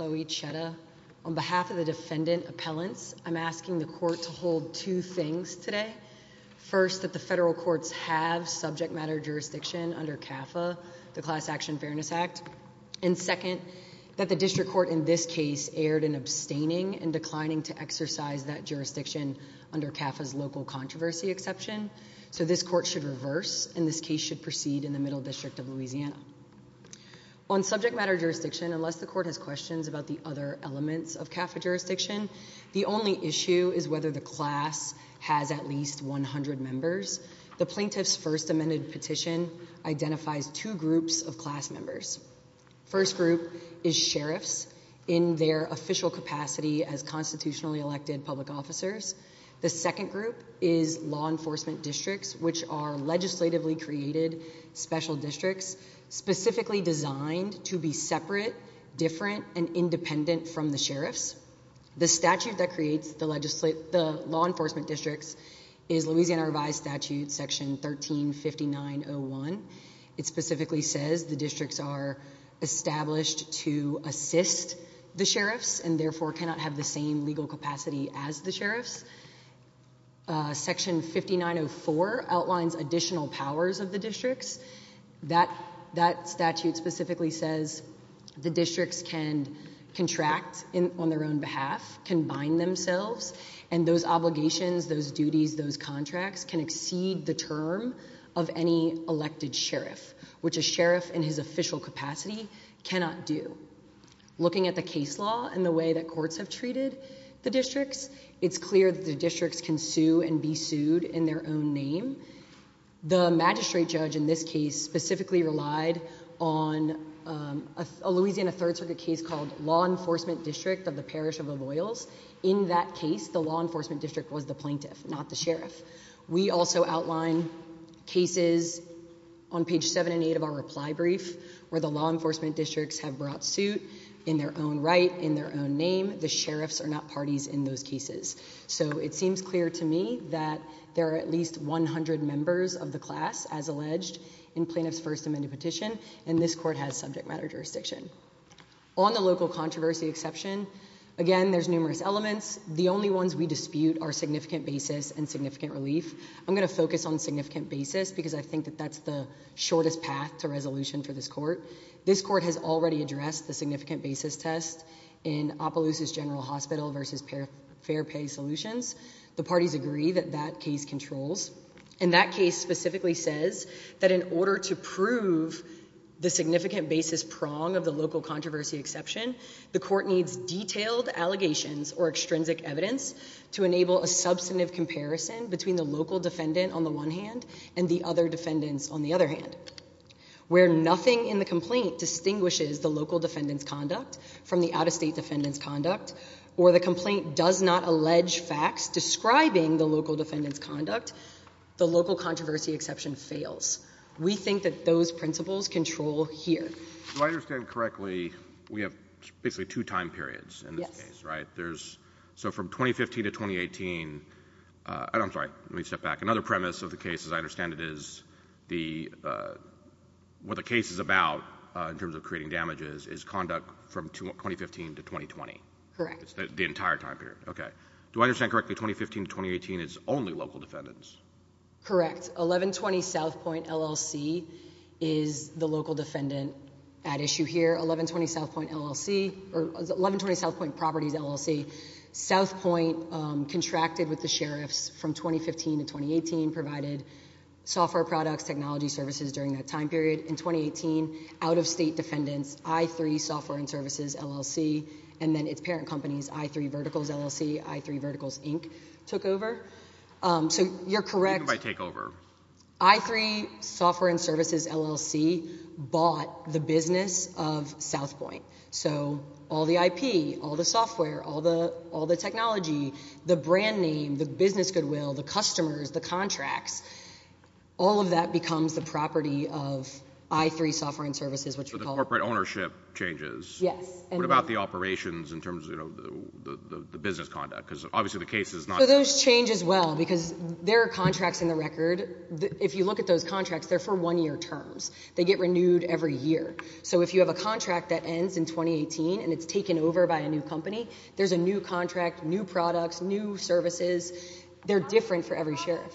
On behalf of the defendant appellants, I'm asking the court to hold two things today. First, that the federal courts have subject matter jurisdiction under CAFA, the Class Action Fairness Act. And second, that the district court in this case erred in abstaining and declining to exercise that jurisdiction under CAFA's local controversy exception. So this court should reverse, and this case should proceed in the Middle District of Louisiana. On subject matter jurisdiction, unless the court has questions about the other elements of CAFA jurisdiction, the only issue is whether the class has at least 100 members. The plaintiff's first amended petition identifies two groups of class members. First group is sheriffs in their official capacity as constitutionally elected public officers. The second group is law enforcement districts, which are legislatively created special districts, specifically designed to be separate, different, and independent from the sheriffs. The statute that creates the law enforcement districts is Louisiana Revised Statute Section 13-5901. It specifically says the districts are established to assist the sheriffs and therefore cannot have the same legal capacity as the sheriffs. Section 5904 outlines additional powers of the districts. That statute specifically says the districts can contract on their own behalf, can bind themselves, and those obligations, those duties, those contracts can exceed the term of any elected sheriff, which a sheriff in his official capacity cannot do. Looking at the case law and the way that courts have treated the districts, it's clear that the districts can sue and be sued in their own name. The magistrate judge in this case specifically relied on a Louisiana Third Circuit case called Law Enforcement District of the Parish of Avoyles. In that case, the law enforcement district was the plaintiff, not the sheriff. We also outline cases on page 7 and 8 of our reply brief where the law enforcement districts have brought suit in their own right, in their own name. The sheriffs are not parties in those cases. So it seems clear to me that there are at least 100 members of the class, as alleged, in plaintiff's First Amendment petition, and this court has subject matter jurisdiction. On the local controversy exception, again, there's numerous elements. The only ones we dispute are significant basis and significant relief. I'm going to focus on significant basis because I think that that's the shortest path to resolution for this court. This court has already addressed the significant basis test in Opelousa's General Hospital versus Fair Pay Solutions. The parties agree that that case controls. And that case specifically says that in order to prove the significant basis prong of the local controversy exception, the court needs detailed allegations or extrinsic evidence to enable a substantive comparison between the local defendant on the one hand and the other defendants on the other hand. Where nothing in the complaint distinguishes the local defendant's conduct from the out-of-state defendant's conduct, or the complaint does not allege facts describing the local defendant's conduct, the local controversy exception fails. We think that those principles control here. If I understand correctly, we have basically two time periods in this case, right? Yes. So from 2015 to 2018, I'm sorry, let me step back. Another premise of the case, as I understand it, is what the case is about, in terms of creating damages, is conduct from 2015 to 2020. Correct. The entire time period. Okay. Do I understand correctly, 2015 to 2018 is only local defendants? Correct. 1120 South Point LLC is the local defendant at issue here. 1120 South Point LLC, or 1120 South Point Properties LLC, South Point contracted with the sheriffs from 2015 to 2018, provided software products, technology services during that time period. In 2018, out-of-state defendants, I3 Software and Services, LLC, and then its parent companies, I3 Verticals, LLC, I3 Verticals, Inc., took over. So you're correct. Takeover. I3 Software and Services, LLC, bought the business of South Point. So all the IP, all the software, all the technology, the brand name, the business goodwill, the customers, the contracts, all of that becomes the property of I3 Software and Services, which we call— So the corporate ownership changes. Yes. What about the operations in terms of the business conduct? Because obviously the case is not— So those change as well, because there are contracts in the record. If you look at those contracts, they're for one-year terms. They get renewed every year. So if you have a contract that ends in 2018 and it's taken over by a new company, there's a new contract, new products, new services. They're different for every sheriff.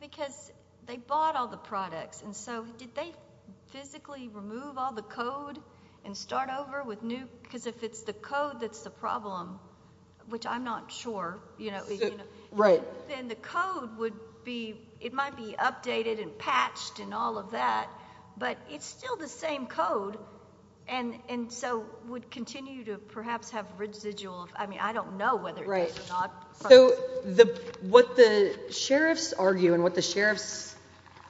Because they bought all the products. And so did they physically remove all the code and start over with new— because if it's the code that's the problem, which I'm not sure, you know, then the code would be—it might be updated and patched and all of that, but it's still the same code and so would continue to perhaps have residual— I mean, I don't know whether it does or not. So what the sheriffs argue and what the sheriffs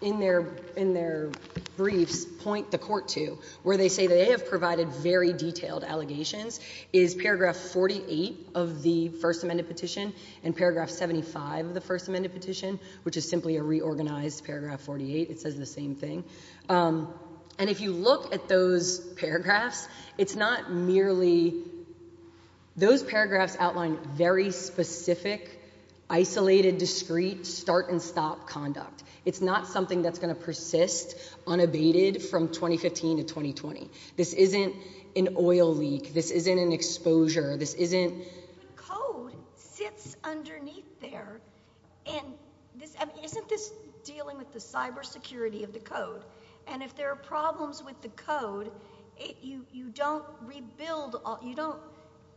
in their briefs point the court to, where they say they have provided very detailed allegations, is paragraph 48 of the First Amendment petition and paragraph 75 of the First Amendment petition, which is simply a reorganized paragraph 48. It says the same thing. And if you look at those paragraphs, it's not merely— isolated, discrete, start-and-stop conduct. It's not something that's going to persist unabated from 2015 to 2020. This isn't an oil leak. This isn't an exposure. This isn't— But code sits underneath there. And isn't this dealing with the cybersecurity of the code? And if there are problems with the code, you don't rebuild— you don't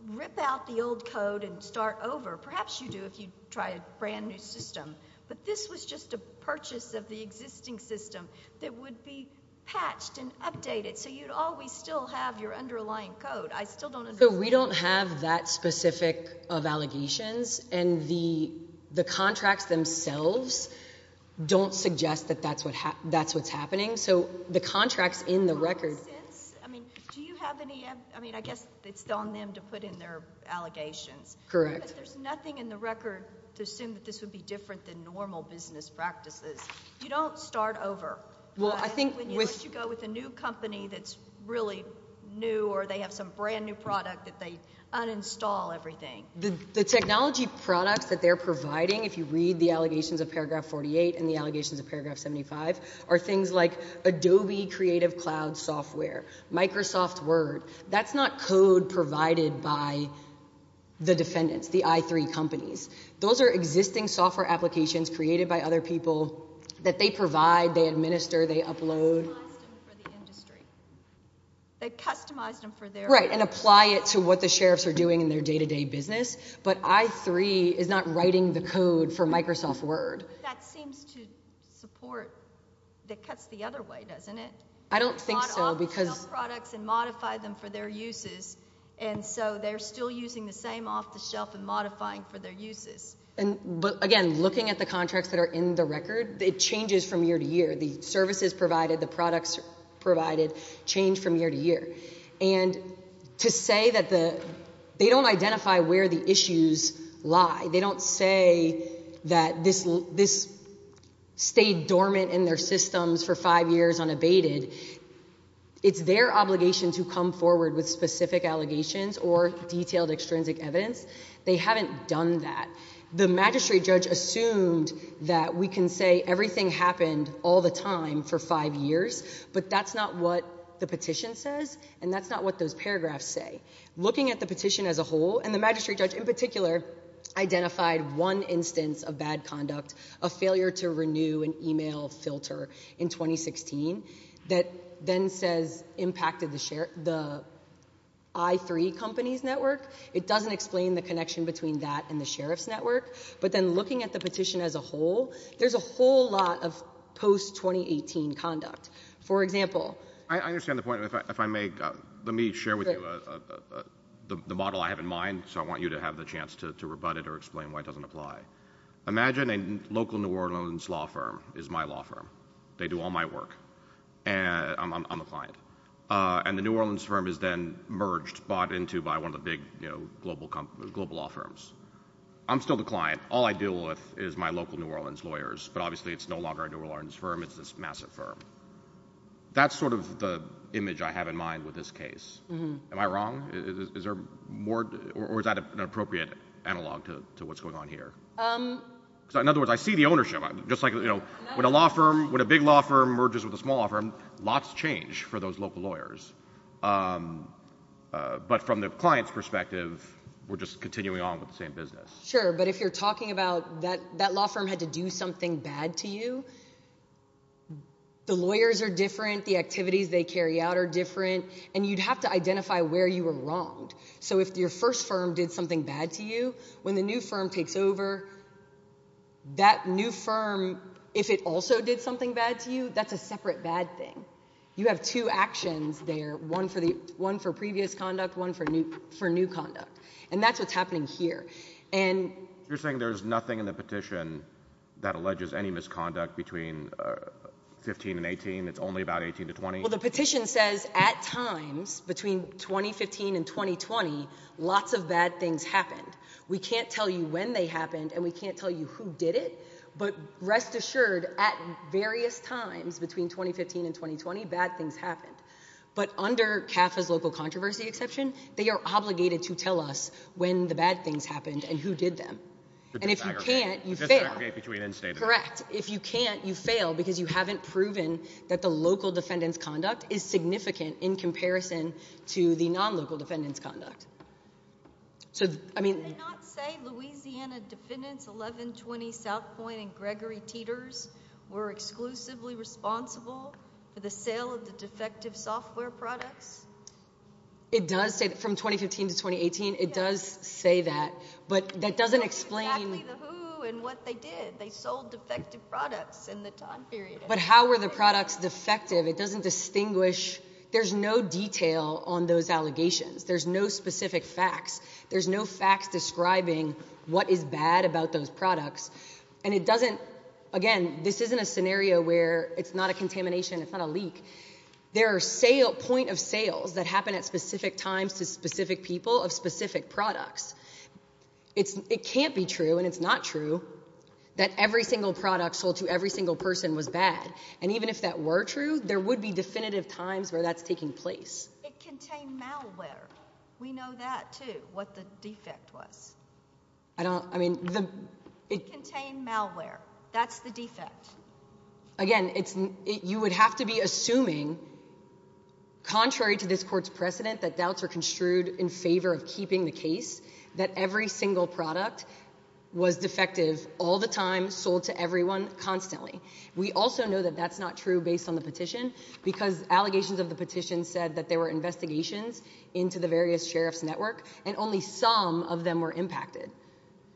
rip out the old code and start over. Perhaps you do if you try a brand-new system. But this was just a purchase of the existing system that would be patched and updated, so you'd always still have your underlying code. I still don't understand. So we don't have that specific of allegations, and the contracts themselves don't suggest that that's what's happening. So the contracts in the record— Do you have any sense—I mean, do you have any— I mean, I guess it's on them to put in their allegations. Correct. But there's nothing in the record to assume that this would be different than normal business practices. You don't start over. Well, I think with— Unless you go with a new company that's really new or they have some brand-new product that they uninstall everything. The technology products that they're providing, if you read the allegations of paragraph 48 and the allegations of paragraph 75, are things like Adobe Creative Cloud software, Microsoft Word. That's not code provided by the defendants, the i3 companies. Those are existing software applications created by other people that they provide, they administer, they upload. They customized them for the industry. They customized them for their— Right, and apply it to what the sheriffs are doing in their day-to-day business. But i3 is not writing the code for Microsoft Word. That seems to support—that cuts the other way, doesn't it? I don't think so, because— And so they're still using the same off-the-shelf and modifying for their uses. But, again, looking at the contracts that are in the record, it changes from year to year. The services provided, the products provided change from year to year. And to say that they don't identify where the issues lie, they don't say that this stayed dormant in their systems for five years unabated, it's their obligation to come forward with specific allegations or detailed extrinsic evidence. They haven't done that. The magistrate judge assumed that we can say everything happened all the time for five years, but that's not what the petition says, and that's not what those paragraphs say. Looking at the petition as a whole, and the magistrate judge in particular, identified one instance of bad conduct, a failure to renew an email filter in 2016, that then says impacted the I3 company's network. It doesn't explain the connection between that and the sheriff's network. But then looking at the petition as a whole, there's a whole lot of post-2018 conduct. For example— I understand the point. If I may, let me share with you the model I have in mind, so I want you to have the chance to rebut it or explain why it doesn't apply. Imagine a local New Orleans law firm is my law firm. They do all my work. I'm a client. And the New Orleans firm is then merged, bought into by one of the big global law firms. I'm still the client. All I deal with is my local New Orleans lawyers, but obviously it's no longer a New Orleans firm. It's this massive firm. That's sort of the image I have in mind with this case. Am I wrong? Or is that an appropriate analog to what's going on here? In other words, I see the ownership. When a law firm—when a big law firm merges with a small law firm, lots change for those local lawyers. But from the client's perspective, we're just continuing on with the same business. Sure, but if you're talking about that law firm had to do something bad to you, the lawyers are different, the activities they carry out are different, and you'd have to identify where you were wronged. So if your first firm did something bad to you, when the new firm takes over, that new firm, if it also did something bad to you, that's a separate bad thing. You have two actions there, one for previous conduct, one for new conduct. And that's what's happening here. You're saying there's nothing in the petition that alleges any misconduct between 15 and 18? It's only about 18 to 20? Well, the petition says at times between 2015 and 2020, lots of bad things happened. We can't tell you when they happened, and we can't tell you who did it, but rest assured at various times between 2015 and 2020, bad things happened. But under CAFA's local controversy exception, they are obligated to tell us when the bad things happened and who did them. And if you can't, you fail. To disaggregate between instances. Correct. If you can't, you fail because you haven't proven that the local defendant's conduct is significant in comparison to the non-local defendant's conduct. Did they not say Louisiana Defendants 1120 Southpoint and Gregory Teeters were exclusively responsible for the sale of the defective software products? It does say that. From 2015 to 2018, it does say that. But that doesn't explain— They told us exactly who and what they did. They sold defective products in the time period. But how were the products defective? It doesn't distinguish. There's no detail on those allegations. There's no specific facts. There's no facts describing what is bad about those products. And it doesn't— Again, this isn't a scenario where it's not a contamination, it's not a leak. There are point of sales that happen at specific times to specific people of specific products. It can't be true, and it's not true, that every single product sold to every single person was bad. And even if that were true, there would be definitive times where that's taking place. It contained malware. We know that, too, what the defect was. I don't—I mean, the— It contained malware. That's the defect. Again, you would have to be assuming, contrary to this court's precedent, that doubts are construed in favor of keeping the case that every single product was defective all the time, sold to everyone constantly. We also know that that's not true based on the petition, because allegations of the petition said that there were investigations into the various sheriff's network, and only some of them were impacted.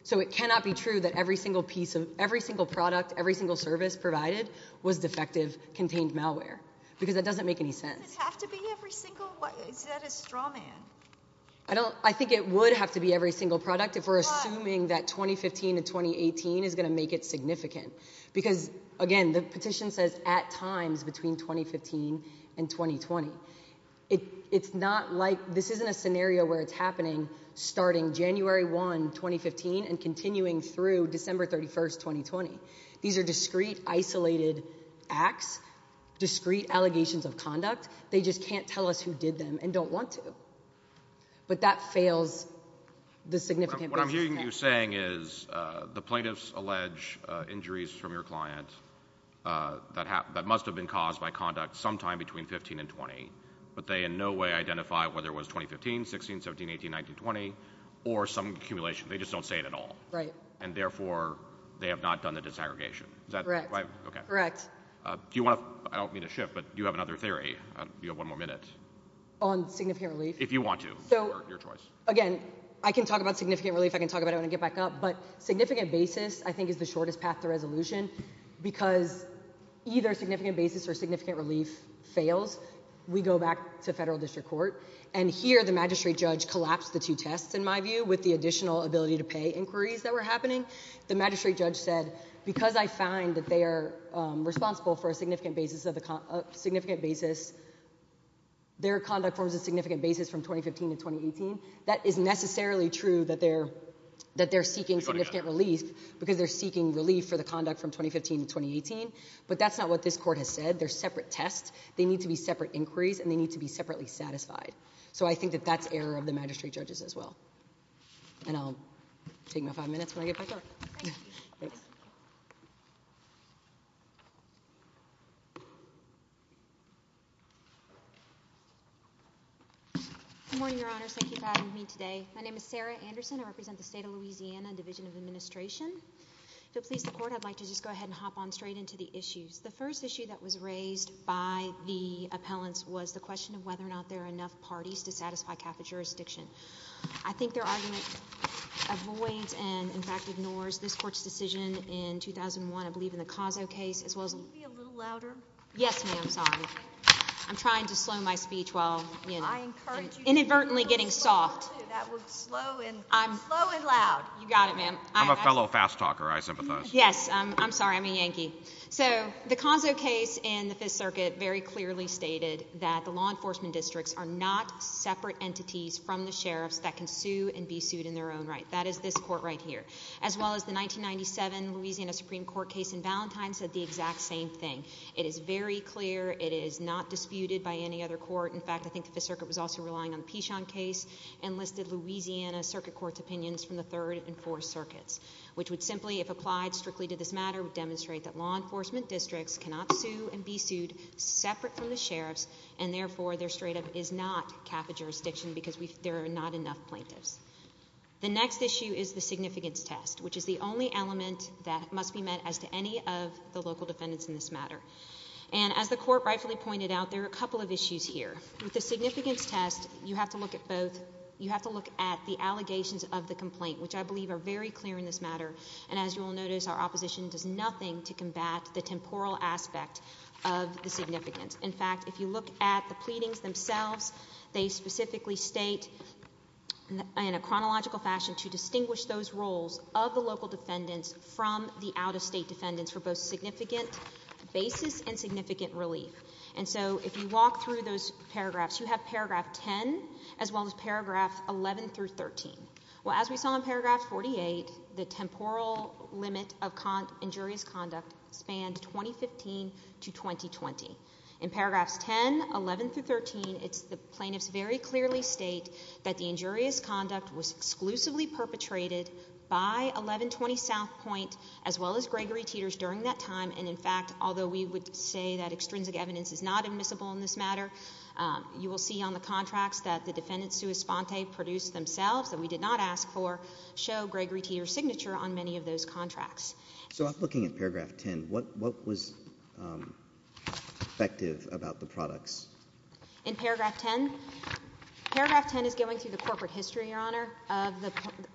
So it cannot be true that every single piece of— every single product, every single service provided was defective, contained malware. Because that doesn't make any sense. Does it have to be every single—is that a straw man? I don't—I think it would have to be every single product if we're assuming that 2015 to 2018 is going to make it significant. Because, again, the petition says at times between 2015 and 2020. It's not like—this isn't a scenario where it's happening starting January 1, 2015, and continuing through December 31, 2020. These are discrete, isolated acts, discrete allegations of conduct. They just can't tell us who did them and don't want to. But that fails the significant— What I'm hearing you saying is the plaintiffs allege injuries from your client that must have been caused by conduct sometime between 15 and 20, but they in no way identify whether it was 2015, 16, 17, 18, 19, 20, or some accumulation. They just don't say it at all. Right. And, therefore, they have not done the disaggregation. Is that right? Correct. Do you want to—I don't mean to shift, but do you have another theory? You have one more minute. On significant relief? If you want to, or your choice. Again, I can talk about significant relief. I can talk about it when I get back up, but significant basis, I think, is the shortest path to resolution because either significant basis or significant relief fails. We go back to federal district court, and here the magistrate judge collapsed the two tests, in my view, with the additional ability-to-pay inquiries that were happening. The magistrate judge said, because I find that they are responsible for a significant basis of the— That is necessarily true that they're seeking significant relief because they're seeking relief for the conduct from 2015 to 2018, but that's not what this court has said. They're separate tests. They need to be separate inquiries, and they need to be separately satisfied. So I think that that's error of the magistrate judges as well. And I'll take my five minutes when I get back up. Thank you. Thanks. Good morning, Your Honors. Thank you for having me today. My name is Sarah Anderson. I represent the State of Louisiana Division of Administration. If you'll please the Court, I'd like to just go ahead and hop on straight into the issues. The first issue that was raised by the appellants was the question of whether or not there are enough parties to satisfy Catholic jurisdiction. in favor of Catholic jurisdiction. I believe in the Cozzo case as well as— Can you be a little louder? Yes, ma'am. Sorry. I'm trying to slow my speech while, you know, inadvertently getting soft. Slow and loud. You got it, ma'am. I'm a fellow fast talker. I sympathize. Yes. I'm sorry. I'm a Yankee. So the Cozzo case in the Fifth Circuit very clearly stated that the law enforcement districts are not separate entities from the sheriffs that can sue and be sued in their own right. That is this court right here, as well as the 1997 Louisiana Supreme Court case in Valentine said the exact same thing. It is very clear. It is not disputed by any other court. In fact, I think the Fifth Circuit was also relying on the Pichon case and listed Louisiana Circuit Court's opinions from the Third and Fourth Circuits, which would simply, if applied strictly to this matter, would demonstrate that law enforcement districts cannot sue and be sued separate from the sheriffs, and therefore there straight up is not Catholic jurisdiction because there are not enough plaintiffs. The next issue is the significance test, which is the only element that must be met as to any of the local defendants in this matter. And as the court rightfully pointed out, there are a couple of issues here. With the significance test, you have to look at both. You have to look at the allegations of the complaint, which I believe are very clear in this matter. And as you will notice, our opposition does nothing to combat the temporal aspect of the significance. In fact, if you look at the pleadings themselves, they specifically state in a chronological fashion to distinguish those roles of the local defendants from the out-of-state defendants for both significant basis and significant relief. And so if you walk through those paragraphs, you have Paragraph 10 as well as Paragraph 11 through 13. Well, as we saw in Paragraph 48, the temporal limit of injurious conduct spanned 2015 to 2020. In Paragraphs 10, 11, through 13, the plaintiffs very clearly state that the injurious conduct was exclusively perpetrated by 1120 South Point as well as Gregory Teters during that time. And in fact, although we would say that extrinsic evidence is not admissible in this matter, you will see on the contracts that the defendants sui sponte produced themselves that we did not ask for show Gregory Teters' signature on many of those contracts. So looking at Paragraph 10, what was effective about the products? In Paragraph 10? Paragraph 10 is going through the corporate history, Your Honor,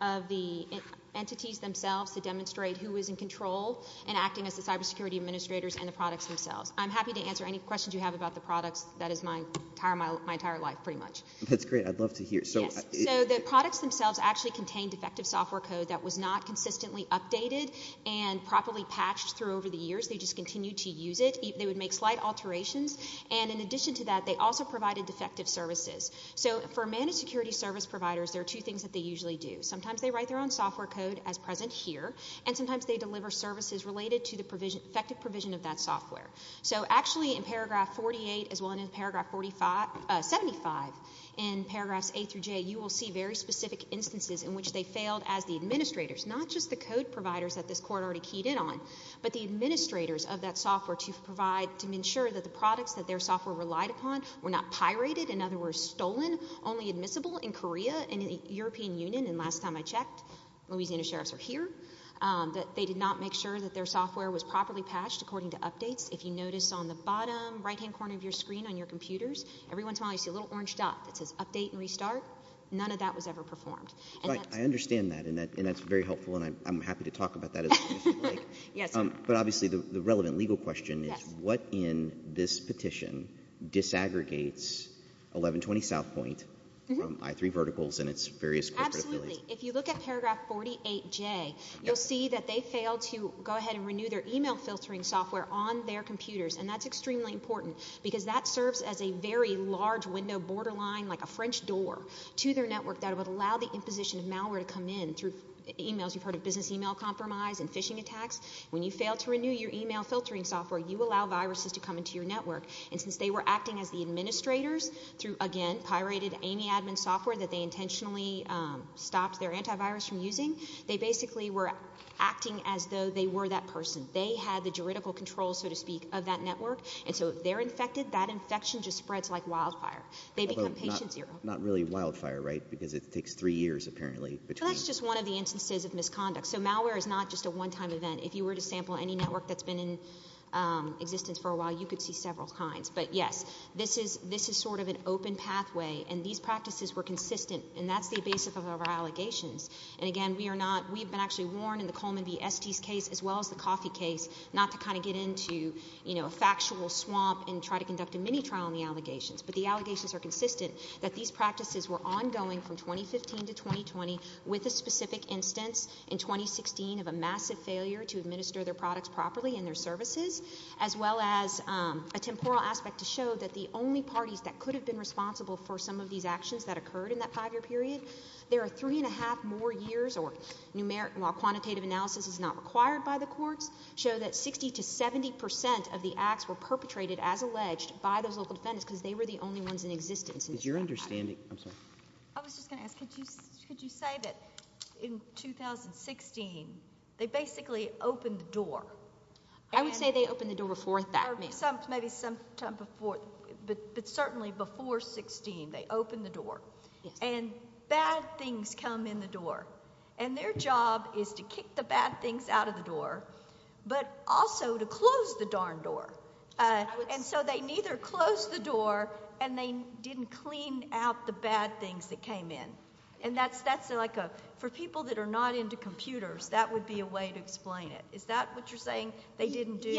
of the entities themselves to demonstrate who is in control and acting as the cybersecurity administrators and the products themselves. I'm happy to answer any questions you have about the products. That is my entire life pretty much. That's great. I'd love to hear. So the products themselves actually contained effective software code that was not consistently updated and properly patched through over the years. They just continued to use it. They would make slight alterations. And in addition to that, they also provided defective services. So for managed security service providers, there are two things that they usually do. Sometimes they write their own software code as present here, and sometimes they deliver services related to the effective provision of that software. So actually in Paragraph 48 as well as in Paragraph 75 in Paragraphs 8 through J, you will see very specific instances in which they failed as the administrators, not just the code providers that this court already keyed in on, but the administrators of that software to provide, to ensure that the products that their software relied upon were not pirated, in other words stolen, only admissible in Korea and in the European Union. And last time I checked, Louisiana sheriffs were here. They did not make sure that their software was properly patched according to updates. If you notice on the bottom right-hand corner of your screen on your computers, every once in a while you see a little orange dot that says Update and Restart. None of that was ever performed. But I understand that, and that's very helpful, and I'm happy to talk about that as much as you like. Yes. But obviously the relevant legal question is what in this petition disaggregates 1120 South Point, I-3 verticals, and its various corporate affiliates? Absolutely. If you look at Paragraph 48J, you'll see that they failed to go ahead and renew their email filtering software on their computers, and that's extremely important because that serves as a very large window borderline, like a French door to their network that would allow the imposition of malware to come in through emails. You've heard of business email compromise and phishing attacks. When you fail to renew your email filtering software, you allow viruses to come into your network. And since they were acting as the administrators through, again, pirated Amy Admin software that they intentionally stopped their antivirus from using, they basically were acting as though they were that person. They had the juridical control, so to speak, of that network, and so if they're infected, that infection just spreads like wildfire. They become patient zero. Not really wildfire, right, because it takes three years, apparently. That's just one of the instances of misconduct. So malware is not just a one-time event. If you were to sample any network that's been in existence for a while, you could see several kinds. But, yes, this is sort of an open pathway, and these practices were consistent, and that's the basis of our allegations. And, again, we've been actually warned in the Coleman v. Estes case as well as the Coffey case not to kind of get into a factual swamp and try to conduct a mini-trial on the allegations, but the allegations are consistent that these practices were ongoing from 2015 to 2020 with a specific instance in 2016 of a massive failure to administer their products properly and their services, as well as a temporal aspect to show that the only parties that could have been responsible for some of these actions that occurred in that five-year period, there are three and a half more years, or while quantitative analysis is not required by the courts, show that 60 to 70 percent of the acts were perpetrated, as alleged, by those local defendants because they were the only ones in existence. Is your understanding... I'm sorry. I was just going to ask, could you say that in 2016 they basically opened the door? I would say they opened the door before that. Maybe sometime before, but certainly before 2016 they opened the door. And bad things come in the door, and their job is to kick the bad things out of the door but also to close the darn door. And so they neither closed the door and they didn't clean out the bad things that came in. And that's like a... for people that are not into computers, that would be a way to explain it. Is that what you're saying? They didn't do... In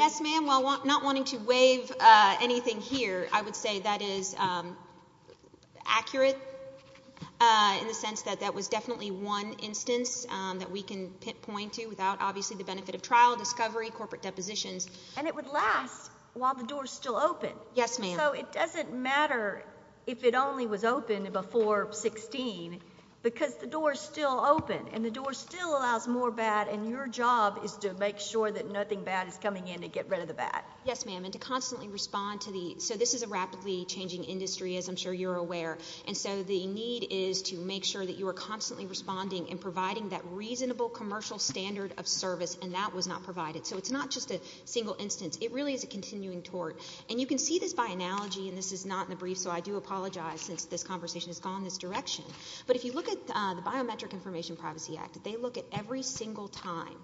the sense that that was definitely one instance that we can pinpoint to without obviously the benefit of trial, discovery, corporate depositions. And it would last while the door is still open. Yes, ma'am. So it doesn't matter if it only was open before 2016 because the door is still open, and the door still allows more bad, and your job is to make sure that nothing bad is coming in to get rid of the bad. Yes, ma'am, and to constantly respond to the... So this is a rapidly changing industry, as I'm sure you're aware. And so the need is to make sure that you are constantly responding and providing that reasonable commercial standard of service, and that was not provided. So it's not just a single instance. It really is a continuing tort. And you can see this by analogy, and this is not in the brief, so I do apologize since this conversation has gone this direction. But if you look at the Biometric Information Privacy Act, they look at every single time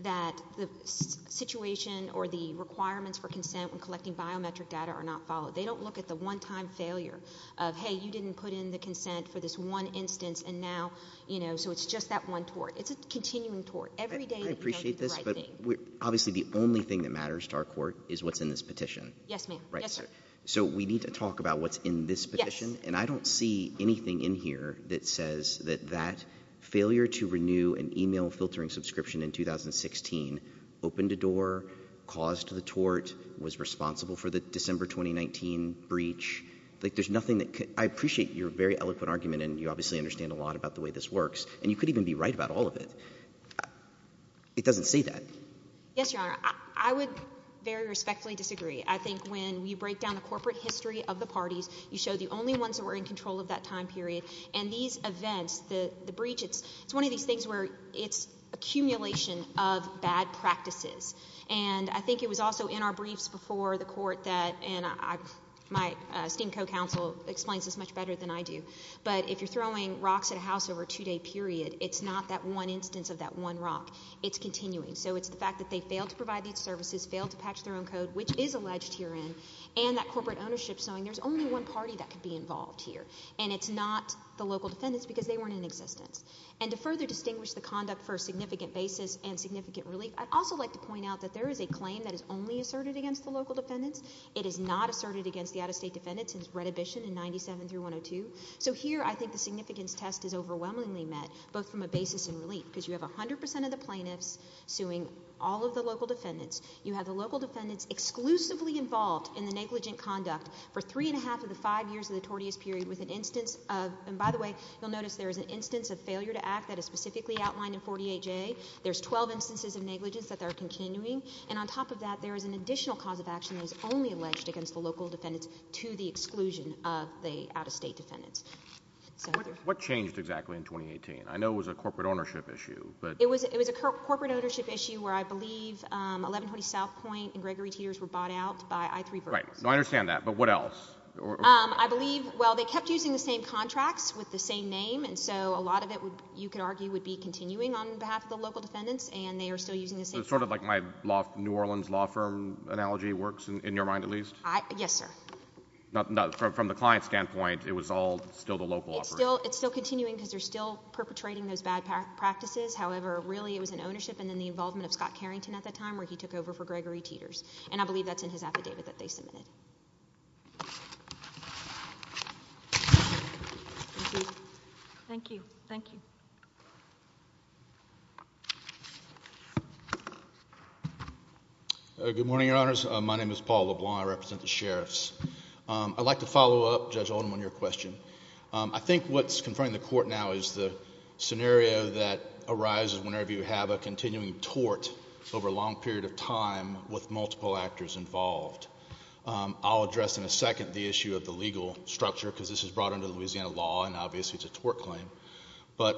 that the situation or the requirements for consent when collecting biometric data are not followed. They don't look at the one-time failure of, hey, you didn't put in the consent for this one instance, and now, you know, so it's just that one tort. It's a continuing tort. Every day... I appreciate this, but obviously the only thing that matters to our court is what's in this petition. Yes, ma'am. Right? Yes, sir. So we need to talk about what's in this petition. Yes. And I don't see anything in here that says that that failure to renew an email filtering subscription in 2016 opened a door, caused the tort, was responsible for the December 2019 breach. Like there's nothing that could... I appreciate your very eloquent argument, and you obviously understand a lot about the way this works, and you could even be right about all of it. It doesn't say that. Yes, Your Honor. I would very respectfully disagree. I think when you break down the corporate history of the parties, you show the only ones that were in control of that time period. And these events, the breach, it's one of these things where it's accumulation of bad practices. And I think it was also in our briefs before the court that, and my esteemed co-counsel explains this much better than I do, but if you're throwing rocks at a house over a two-day period, it's not that one instance of that one rock. It's continuing. So it's the fact that they failed to provide these services, failed to patch their own code, which is alleged herein, and that corporate ownership is knowing there's only one party that could be involved here. And it's not the local defendants because they weren't in existence. And to further distinguish the conduct for a significant basis and significant relief, I'd also like to point out that there is a claim that is only asserted against the local defendants. It is not asserted against the out-of-state defendants in Redhibition in 97 through 102. So here I think the significance test is overwhelmingly met both from a basis and relief because you have 100 percent of the plaintiffs suing all of the local defendants. You have the local defendants exclusively involved in the negligent conduct for three-and-a-half of the five years of the tortious period with an instance of, and by the way, you'll notice there is an instance of failure to act that is specifically outlined in 48J. There's 12 instances of negligence that are continuing. And on top of that, there is an additional cause of action that is only alleged against the local defendants to the exclusion of the out-of-state defendants. What changed exactly in 2018? I know it was a corporate ownership issue. It was a corporate ownership issue where I believe 1120 South Point and Gregory Teeters were bought out by I-3 Verticals. Right. I understand that. But what else? I believe, well, they kept using the same contracts with the same name, and so a lot of it you could argue would be continuing on behalf of the local defendants, and they are still using the same contract. So it's sort of like my New Orleans law firm analogy works in your mind at least? Yes, sir. From the client standpoint, it was all still the local operation. It's still continuing because they're still perpetrating those bad practices. However, really it was an ownership and then the involvement of Scott Carrington at the time where he took over for Gregory Teeters, and I believe that's in his affidavit that they submitted. Thank you. Thank you. Good morning, Your Honors. My name is Paul LeBlanc. I represent the sheriffs. I'd like to follow up, Judge Oldham, on your question. I think what's confronting the Court now is the scenario that arises whenever you have a continuing tort over a long period of time with multiple actors involved. I'll address in a second the issue of the legal structure because this is brought under the Louisiana law, and obviously it's a tort claim. But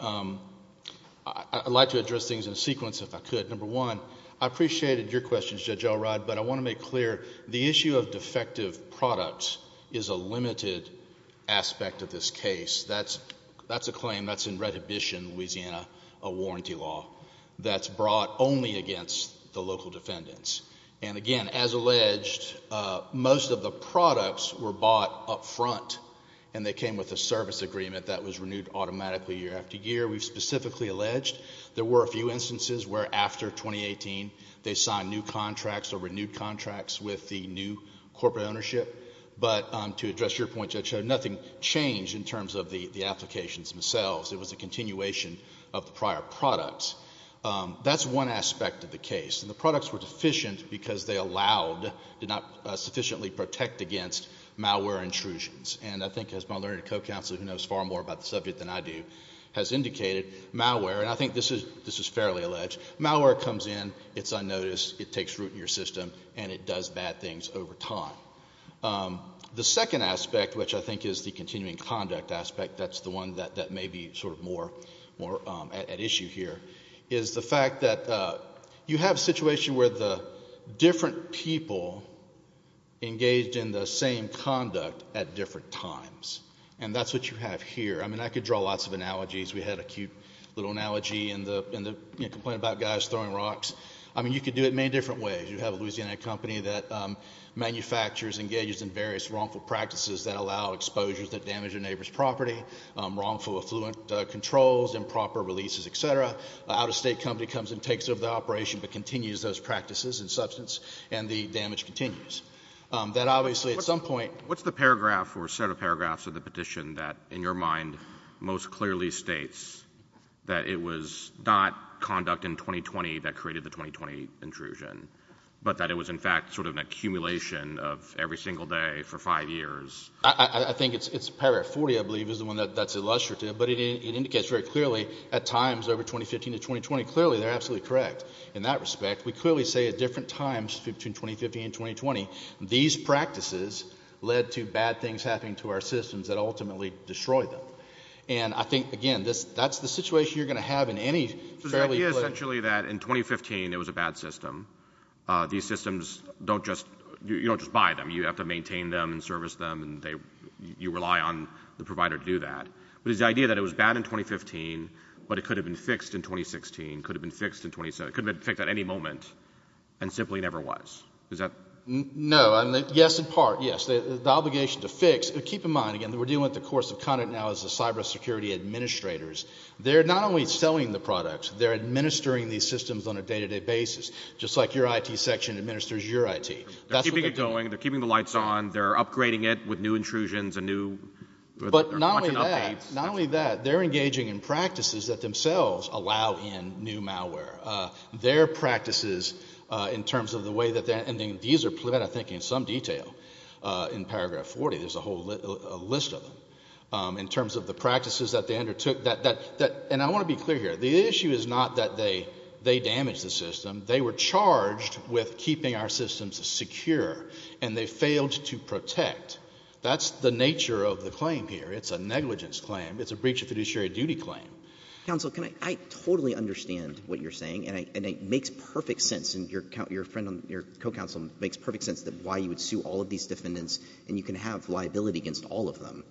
I'd like to address things in a sequence if I could. Number one, I appreciated your questions, Judge Elrod, but I want to make clear the issue of defective products is a limited aspect of this case. That's a claim that's in Redhibition, Louisiana, a warranty law that's brought only against the local defendants. And again, as alleged, most of the products were bought up front, and they came with a service agreement that was renewed automatically year after year. We've specifically alleged there were a few instances where, after 2018, they signed new contracts or renewed contracts with the new corporate ownership. But to address your point, Judge, nothing changed in terms of the applications themselves. It was a continuation of the prior products. That's one aspect of the case. And the products were deficient because they allowed, did not sufficiently protect against, malware intrusions. And I think, as my learned co-counselor, who knows far more about the subject than I do, has indicated, malware, and I think this is fairly alleged, malware comes in, it's unnoticed, it takes root in your system, and it does bad things over time. The second aspect, which I think is the continuing conduct aspect, that's the one that may be sort of more at issue here, is the fact that you have a situation where the different people engaged in the same conduct at different times. And that's what you have here. I mean, I could draw lots of analogies. We had a cute little analogy in the complaint about guys throwing rocks. I mean, you could do it many different ways. You have a Louisiana company that manufactures and engages in various wrongful practices that allow exposures that damage a neighbor's property, wrongful affluent controls, improper releases, et cetera. An out-of-state company comes and takes over the operation but continues those practices and substance, and the damage continues. That obviously, at some point— What's the paragraph or set of paragraphs of the petition that, in your mind, most clearly states that it was not conduct in 2020 that created the 2020 intrusion, but that it was, in fact, sort of an accumulation of every single day for five years? I think it's paragraph 40, I believe, is the one that's illustrative, but it indicates very clearly at times over 2015 to 2020. Clearly, they're absolutely correct in that respect. We clearly say at different times between 2015 and 2020, these practices led to bad things happening to our systems that ultimately destroyed them. And I think, again, that's the situation you're going to have in any fairly— So the idea is essentially that in 2015 it was a bad system. These systems don't just—you don't just buy them. You have to maintain them and service them, and you rely on the provider to do that. But it's the idea that it was bad in 2015, but it could have been fixed in 2016, could have been fixed in 2017, could have been fixed at any moment, and simply never was. Is that— No. Yes, in part, yes. The obligation to fix—keep in mind, again, that we're dealing with the course of conduct now as the cybersecurity administrators. They're not only selling the products. They're administering these systems on a day-to-day basis, just like your IT section administers your IT. They're keeping it going. They're keeping the lights on. They're upgrading it with new intrusions and new— But not only that, not only that, they're engaging in practices that themselves allow in new malware. Their practices, in terms of the way that they're— and these are put, I think, in some detail in paragraph 40. There's a whole list of them, in terms of the practices that they undertook. And I want to be clear here. The issue is not that they damaged the system. They were charged with keeping our systems secure, and they failed to protect. That's the nature of the claim here. It's a negligence claim. It's a breach of fiduciary duty claim. Counsel, can I—I totally understand what you're saying, and it makes perfect sense, and your friend on—your co-counsel makes perfect sense that why you would sue all of these defendants, and you can have liability against all of them.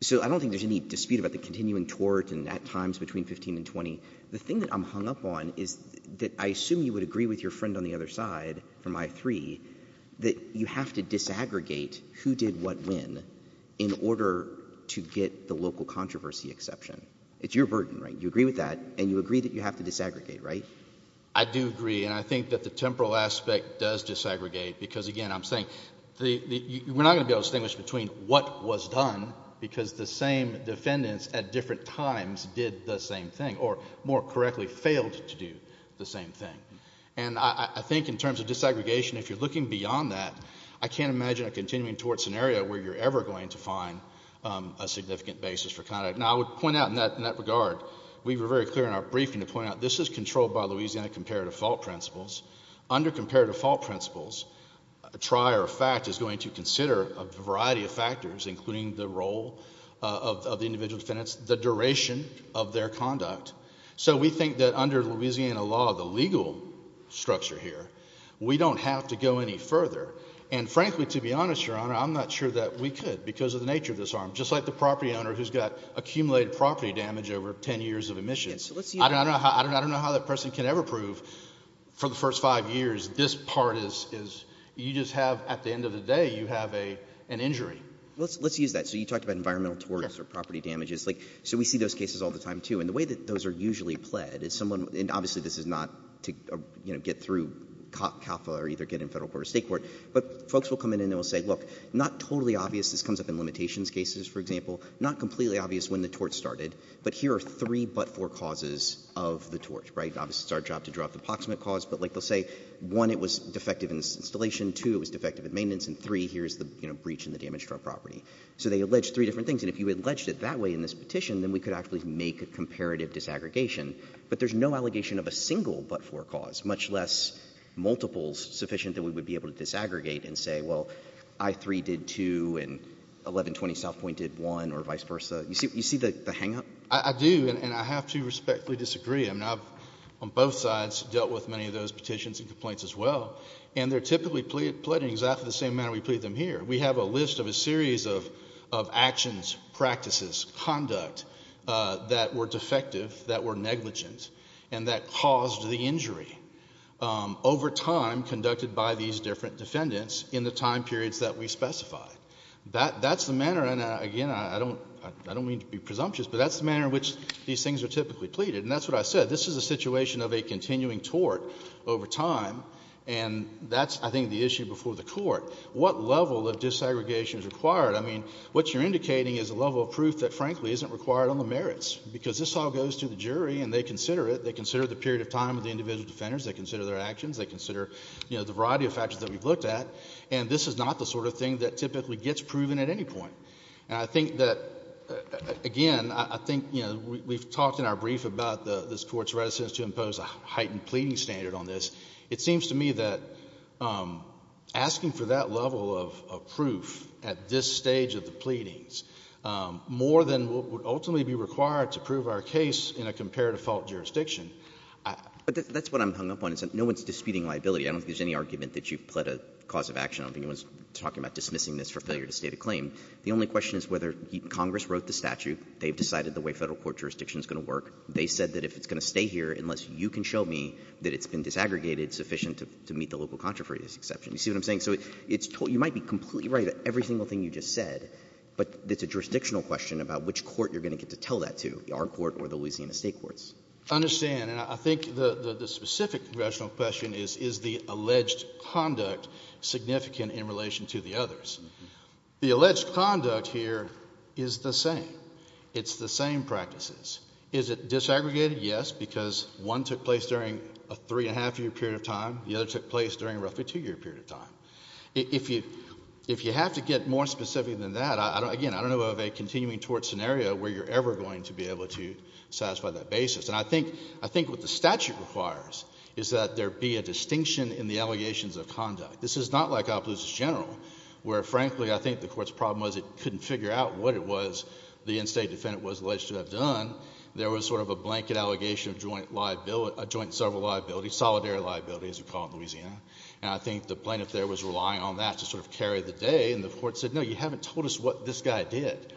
So I don't think there's any dispute about the continuing tort, and at times between 15 and 20. The thing that I'm hung up on is that I assume you would agree with your friend on the other side from I-3 that you have to disaggregate who did what when in order to get the local controversy exception. It's your burden, right? You agree with that, and you agree that you have to disaggregate, right? I do agree, and I think that the temporal aspect does disaggregate because, again, I'm saying we're not going to be able to distinguish between what was done because the same defendants at different times did the same thing or, more correctly, failed to do the same thing. And I think in terms of disaggregation, if you're looking beyond that, I can't imagine a continuing tort scenario where you're ever going to find a significant basis for conduct. Now, I would point out in that regard, we were very clear in our briefing to point out this is controlled by Louisiana comparative fault principles. Under comparative fault principles, a trier of fact is going to consider a variety of factors, including the role of the individual defendants, the duration of their conduct. So we think that under Louisiana law, the legal structure here, we don't have to go any further. And frankly, to be honest, Your Honor, I'm not sure that we could because of the nature of this arm. Just like the property owner who's got accumulated property damage over ten years of emissions. I don't know how that person can ever prove for the first five years this part is – you just have – at the end of the day, you have an injury. Well, let's use that. So you talked about environmental torts or property damages. So we see those cases all the time, too. And the way that those are usually pled is someone – and obviously this is not to get through CAFA or either get in federal court or state court. But folks will come in and they will say, look, not totally obvious. This comes up in limitations cases, for example. Not completely obvious when the tort started. But here are three but-for causes of the tort, right? Obviously, it's our job to draw up the approximate cause. But like they'll say, one, it was defective in its installation. Two, it was defective in maintenance. And three, here's the breach in the damage to our property. So they allege three different things. And if you had alleged it that way in this petition, then we could actually make a comparative disaggregation. But there's no allegation of a single but-for cause, much less multiples sufficient that we would be able to disaggregate and say, well, I-3 did two and 1120 South Point did one or vice versa. You see the hangup? I do, and I have to respectfully disagree. I mean, I've on both sides dealt with many of those petitions and complaints as well. And they're typically pleaded in exactly the same manner we plead them here. We have a list of a series of actions, practices, conduct that were defective, that were negligent, and that caused the injury over time conducted by these different defendants in the time periods that we specified. That's the manner, and again, I don't mean to be presumptuous, but that's the manner in which these things are typically pleaded. And that's what I said. This is a situation of a continuing tort over time. And that's, I think, the issue before the court. What level of disaggregation is required? I mean, what you're indicating is a level of proof that, frankly, isn't required on the merits because this all goes to the jury and they consider it. They consider the period of time of the individual defenders. They consider their actions. They consider the variety of factors that we've looked at. And this is not the sort of thing that typically gets proven at any point. And I think that, again, I think we've talked in our brief about this Court's resistance to impose a heightened pleading standard on this. It seems to me that asking for that level of proof at this stage of the pleadings more than what would ultimately be required to prove our case in a compare-to-fault jurisdiction. But that's what I'm hung up on is that no one's disputing liability. I don't think there's any argument that you've pled a cause of action. I don't think anyone's talking about dismissing this for failure to state a claim. The only question is whether Congress wrote the statute. They've decided the way federal court jurisdiction is going to work. They said that if it's going to stay here, unless you can show me that it's been disaggregated, it's sufficient to meet the local controversy exception. You see what I'm saying? So you might be completely right about every single thing you just said, but it's a jurisdictional question about which court you're going to get to tell that to, our court or the Louisiana state courts. I understand. And I think the specific congressional question is, is the alleged conduct significant in relation to the others? The alleged conduct here is the same. It's the same practices. Is it disaggregated? Yes, because one took place during a three-and-a-half-year period of time. The other took place during a roughly two-year period of time. If you have to get more specific than that, again, I don't know of a continuing tort scenario where you're ever going to be able to satisfy that basis. And I think what the statute requires is that there be a distinction in the allegations of conduct. This is not like Obluxus General, where, frankly, I think the court's problem was it couldn't figure out what it was the in-state defendant was alleged to have done. There was sort of a blanket allegation of joint and several liabilities, solidary liabilities, as we call it in Louisiana. And I think the plaintiff there was relying on that to sort of carry the day, and the court said, no, you haven't told us what this guy did.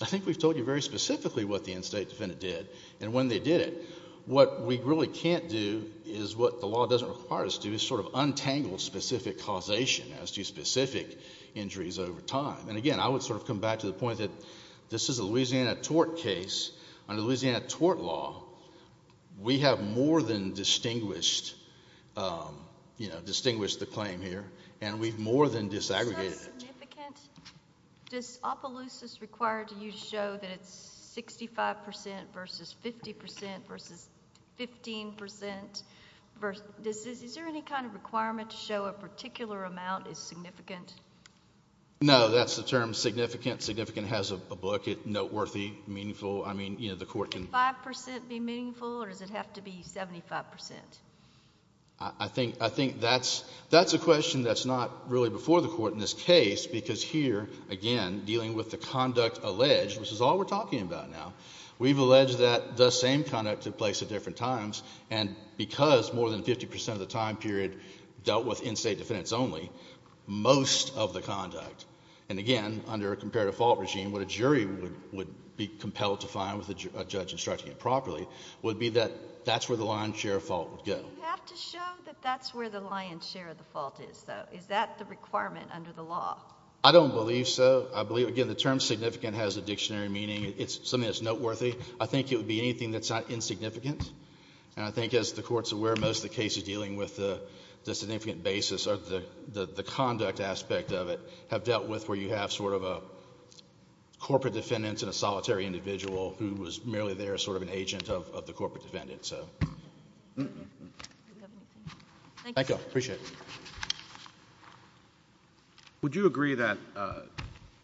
I think we've told you very specifically what the in-state defendant did and when they did it. What we really can't do is what the law doesn't require us to do, is sort of untangle specific causation as to specific injuries over time. And, again, I would sort of come back to the point that this is a Louisiana tort case. Under Louisiana tort law, we have more than distinguished the claim here, and we've more than disaggregated it. Is that significant? Does Obluxus require you to show that it's 65 percent versus 50 percent versus 15 percent? Is there any kind of requirement to show a particular amount is significant? No. That's the term significant. Significant has a book, noteworthy, meaningful. I mean, you know, the court can. Can 5 percent be meaningful, or does it have to be 75 percent? I think that's a question that's not really before the court in this case, because here, again, dealing with the conduct alleged, which is all we're talking about now, we've alleged that the same conduct took place at different times, and because more than 50 percent of the time period dealt with in-state defendants only, most of the conduct, and again, under a comparative fault regime, what a jury would be compelled to find with a judge instructing it properly would be that that's where the lion's share of fault would go. Do you have to show that that's where the lion's share of the fault is, though? Is that the requirement under the law? I don't believe so. I believe, again, the term significant has a dictionary meaning. It's something that's noteworthy. I think it would be anything that's not insignificant, and I think as the Court's aware, most of the cases dealing with the significant basis or the conduct aspect of it have dealt with where you have sort of a corporate defendant and a solitary individual who was merely there as sort of an agent of the corporate defendant. Thank you. I appreciate it. Would you agree that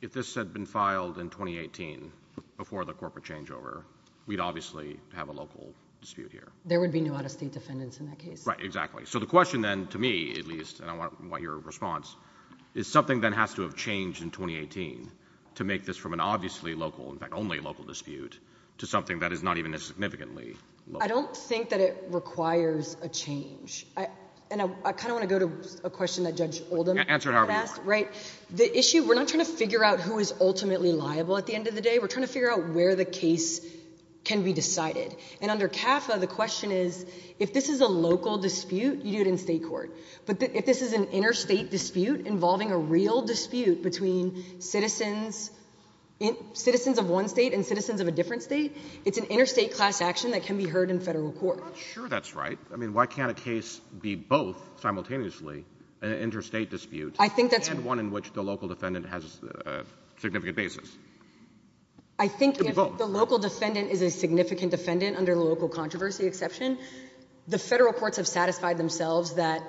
if this had been filed in 2018 before the corporate changeover, we'd obviously have a local dispute here? There would be no out-of-state defendants in that case. Right, exactly. So the question then, to me at least, and I want your response, is something that has to have changed in 2018 to make this from an obviously local, in fact, only local dispute to something that is not even as significantly local? I don't think that it requires a change. And I kind of want to go to a question that Judge Oldham had asked. Answer it however you want. Right. The issue, we're not trying to figure out who is ultimately liable at the end of the day. We're trying to figure out where the case can be decided. And under CAFA, the question is, if this is a local dispute, you do it in state court. But if this is an interstate dispute involving a real dispute between citizens of one state and citizens of a different state, it's an interstate class action that can be heard in federal court. I'm not sure that's right. I mean, why can't a case be both simultaneously an interstate dispute and one in which the local defendant has a significant basis? I think if the local defendant is a significant defendant under the local controversy exception, the federal courts have satisfied themselves that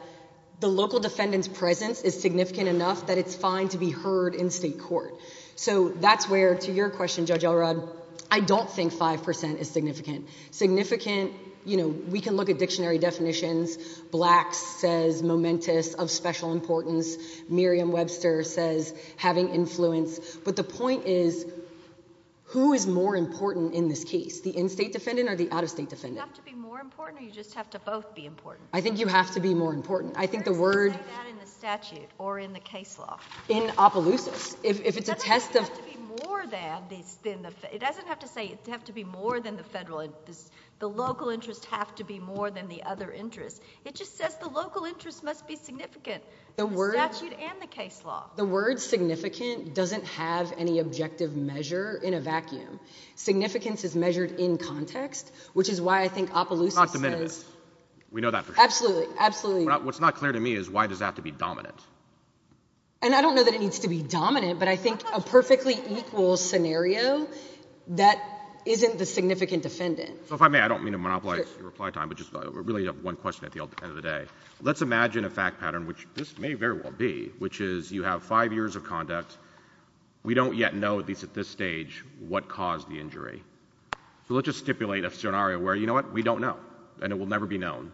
the local defendant's presence is significant enough that it's fine to be heard in state court. So that's where, to your question, Judge Elrod, I don't think 5% is significant. Significant, you know, we can look at dictionary definitions. Blacks says momentous, of special importance. Merriam-Webster says having influence. But the point is, who is more important in this case, the in-state defendant or the out-of-state defendant? Do you have to be more important or do you just have to both be important? I think you have to be more important. Where does it say that in the statute or in the case law? In Opelousas. It doesn't have to be more than the federal. The local interests have to be more than the other interests. It just says the local interest must be significant in the statute and the case law. The word significant doesn't have any objective measure in a vacuum. Significance is measured in context, which is why I think Opelousas says— It's not diminutive. We know that for sure. Absolutely, absolutely. What's not clear to me is why does that have to be dominant? And I don't know that it needs to be dominant, but I think a perfectly equal scenario, that isn't the significant defendant. So if I may, I don't mean to monopolize your reply time, but just really one question at the end of the day. Let's imagine a fact pattern, which this may very well be, which is you have five years of conduct. We don't yet know, at least at this stage, what caused the injury. So let's just stipulate a scenario where, you know what, we don't know, and it will never be known.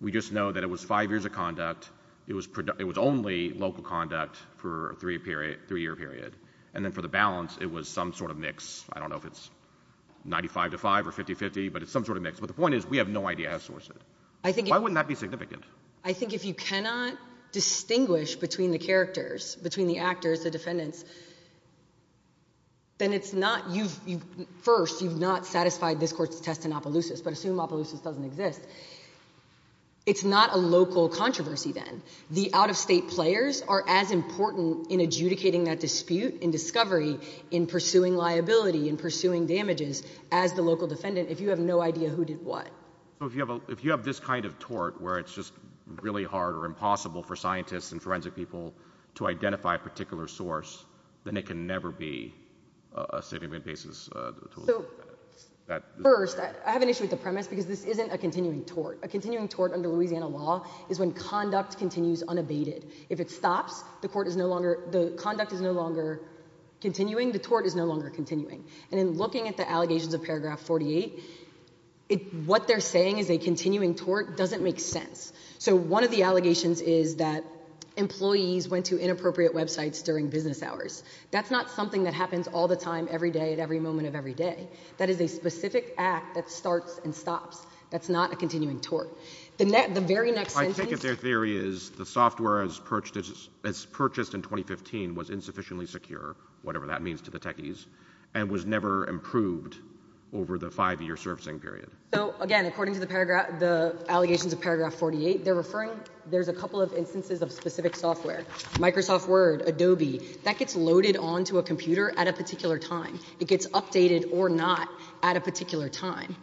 We just know that it was five years of conduct. It was only local conduct for a three-year period. And then for the balance, it was some sort of mix. I don't know if it's 95 to 5 or 50-50, but it's some sort of mix. But the point is we have no idea who sourced it. Why wouldn't that be significant? I think if you cannot distinguish between the characters, between the actors, the defendants, then it's not— First, you've not satisfied this Court's test in Opelousas, but assume Opelousas doesn't exist. It's not a local controversy then. The out-of-state players are as important in adjudicating that dispute and discovery, in pursuing liability, in pursuing damages, as the local defendant if you have no idea who did what. So if you have this kind of tort where it's just really hard or impossible for scientists and forensic people to identify a particular source, then it can never be a state-of-the-art basis to— First, I have an issue with the premise because this isn't a continuing tort. A continuing tort under Louisiana law is when conduct continues unabated. If it stops, the conduct is no longer continuing, the tort is no longer continuing. And in looking at the allegations of paragraph 48, what they're saying is a continuing tort doesn't make sense. So one of the allegations is that employees went to inappropriate websites during business hours. That's not something that happens all the time, every day, at every moment of every day. That is a specific act that starts and stops. That's not a continuing tort. The very next sentence— I take it their theory is the software as purchased in 2015 was insufficiently secure, whatever that means to the techies, and was never improved over the five-year servicing period. So, again, according to the allegations of paragraph 48, they're referring— there's a couple of instances of specific software. Microsoft Word, Adobe, that gets loaded onto a computer at a particular time. It gets updated or not at a particular time.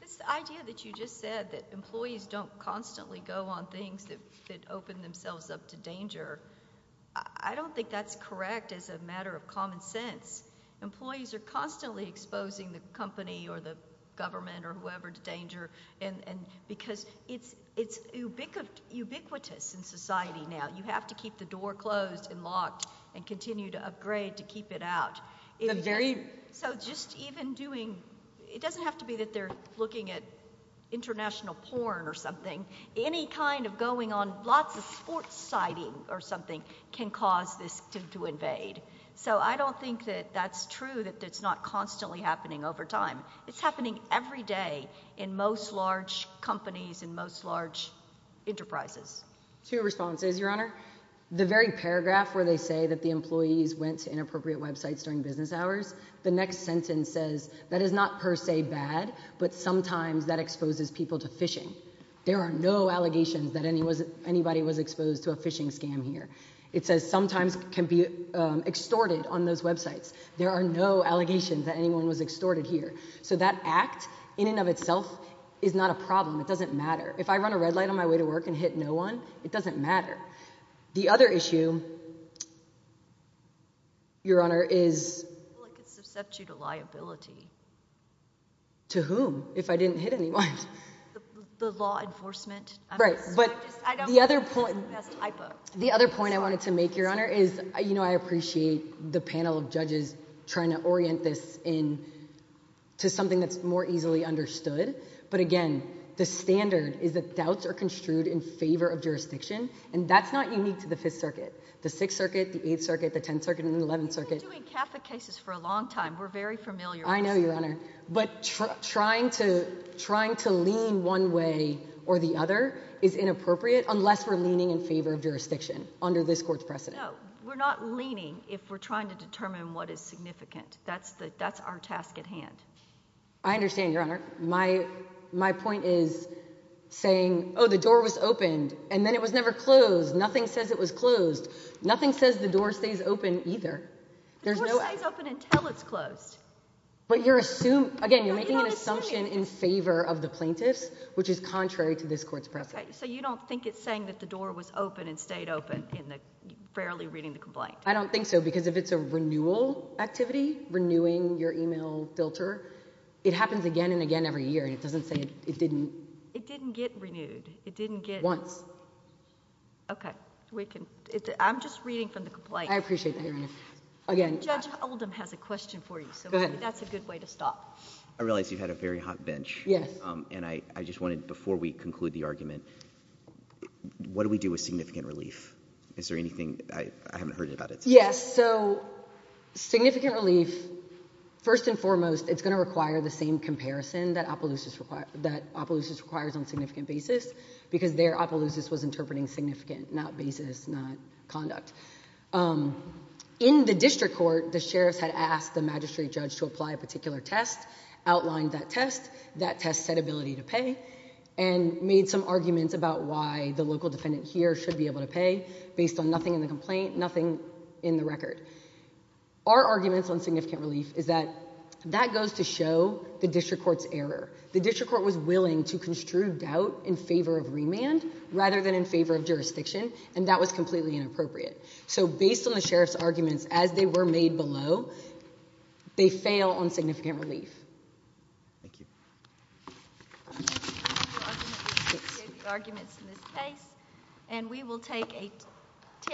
This idea that you just said that employees don't constantly go on things that open themselves up to danger, I don't think that's correct as a matter of common sense. Employees are constantly exposing the company or the government or whoever to danger because it's ubiquitous in society now. You have to keep the door closed and locked and continue to upgrade to keep it out. So just even doing—it doesn't have to be that they're looking at international porn or something. Any kind of going on lots of sports sighting or something can cause this to invade. So I don't think that that's true, that it's not constantly happening over time. It's happening every day in most large companies, in most large enterprises. Two responses, Your Honor. The very paragraph where they say that the employees went to inappropriate websites during business hours, the next sentence says that is not per se bad, but sometimes that exposes people to phishing. There are no allegations that anybody was exposed to a phishing scam here. It says sometimes can be extorted on those websites. There are no allegations that anyone was extorted here. So that act in and of itself is not a problem. It doesn't matter. If I run a red light on my way to work and hit no one, it doesn't matter. The other issue, Your Honor, is— Well, it could suscept you to liability. To whom, if I didn't hit anyone? The law enforcement. Right, but the other point— I don't think that's the best hypo. The other point I wanted to make, Your Honor, is, you know, I appreciate the panel of judges trying to orient this into something that's more easily understood, but again, the standard is that doubts are construed in favor of jurisdiction, and that's not unique to the Fifth Circuit, the Sixth Circuit, the Eighth Circuit, the Tenth Circuit, and the Eleventh Circuit. We've been doing Catholic cases for a long time. We're very familiar with— I know, Your Honor, but trying to lean one way or the other is inappropriate unless we're leaning in favor of jurisdiction under this court's precedent. No, we're not leaning if we're trying to determine what is significant. That's our task at hand. I understand, Your Honor. My point is saying, oh, the door was opened, and then it was never closed. Nothing says it was closed. Nothing says the door stays open either. The door stays open until it's closed. But you're assuming— No, you're not assuming. Again, you're making an assumption in favor of the plaintiffs, which is contrary to this court's precedent. Okay, so you don't think it's saying that the door was open and stayed open in the fairly reading the complaint? I don't think so, because if it's a renewal activity, renewing your email filter, it happens again and again every year. It doesn't say it didn't— It didn't get renewed. It didn't get— Once. Okay. I'm just reading from the complaint. I appreciate that, Your Honor. Again— Judge Oldham has a question for you, so that's a good way to stop. I realize you've had a very hot bench. Yes. And I just wanted, before we conclude the argument, what do we do with significant relief? Is there anything—I haven't heard about it. Yes, so significant relief, first and foremost, it's going to require the same comparison that Opelousas requires on significant basis, because there Opelousas was interpreting significant, not basis, not conduct. In the district court, the sheriffs had asked the magistrate judge to apply a particular test, outlined that test. That test said ability to pay and made some arguments about why the local defendant here should be able to pay based on nothing in the complaint, nothing in the record. Our arguments on significant relief is that that goes to show the district court's error. The district court was willing to construe doubt in favor of remand rather than in favor of jurisdiction, and that was completely inappropriate. So based on the sheriff's arguments as they were made below, they fail on significant relief. Thank you.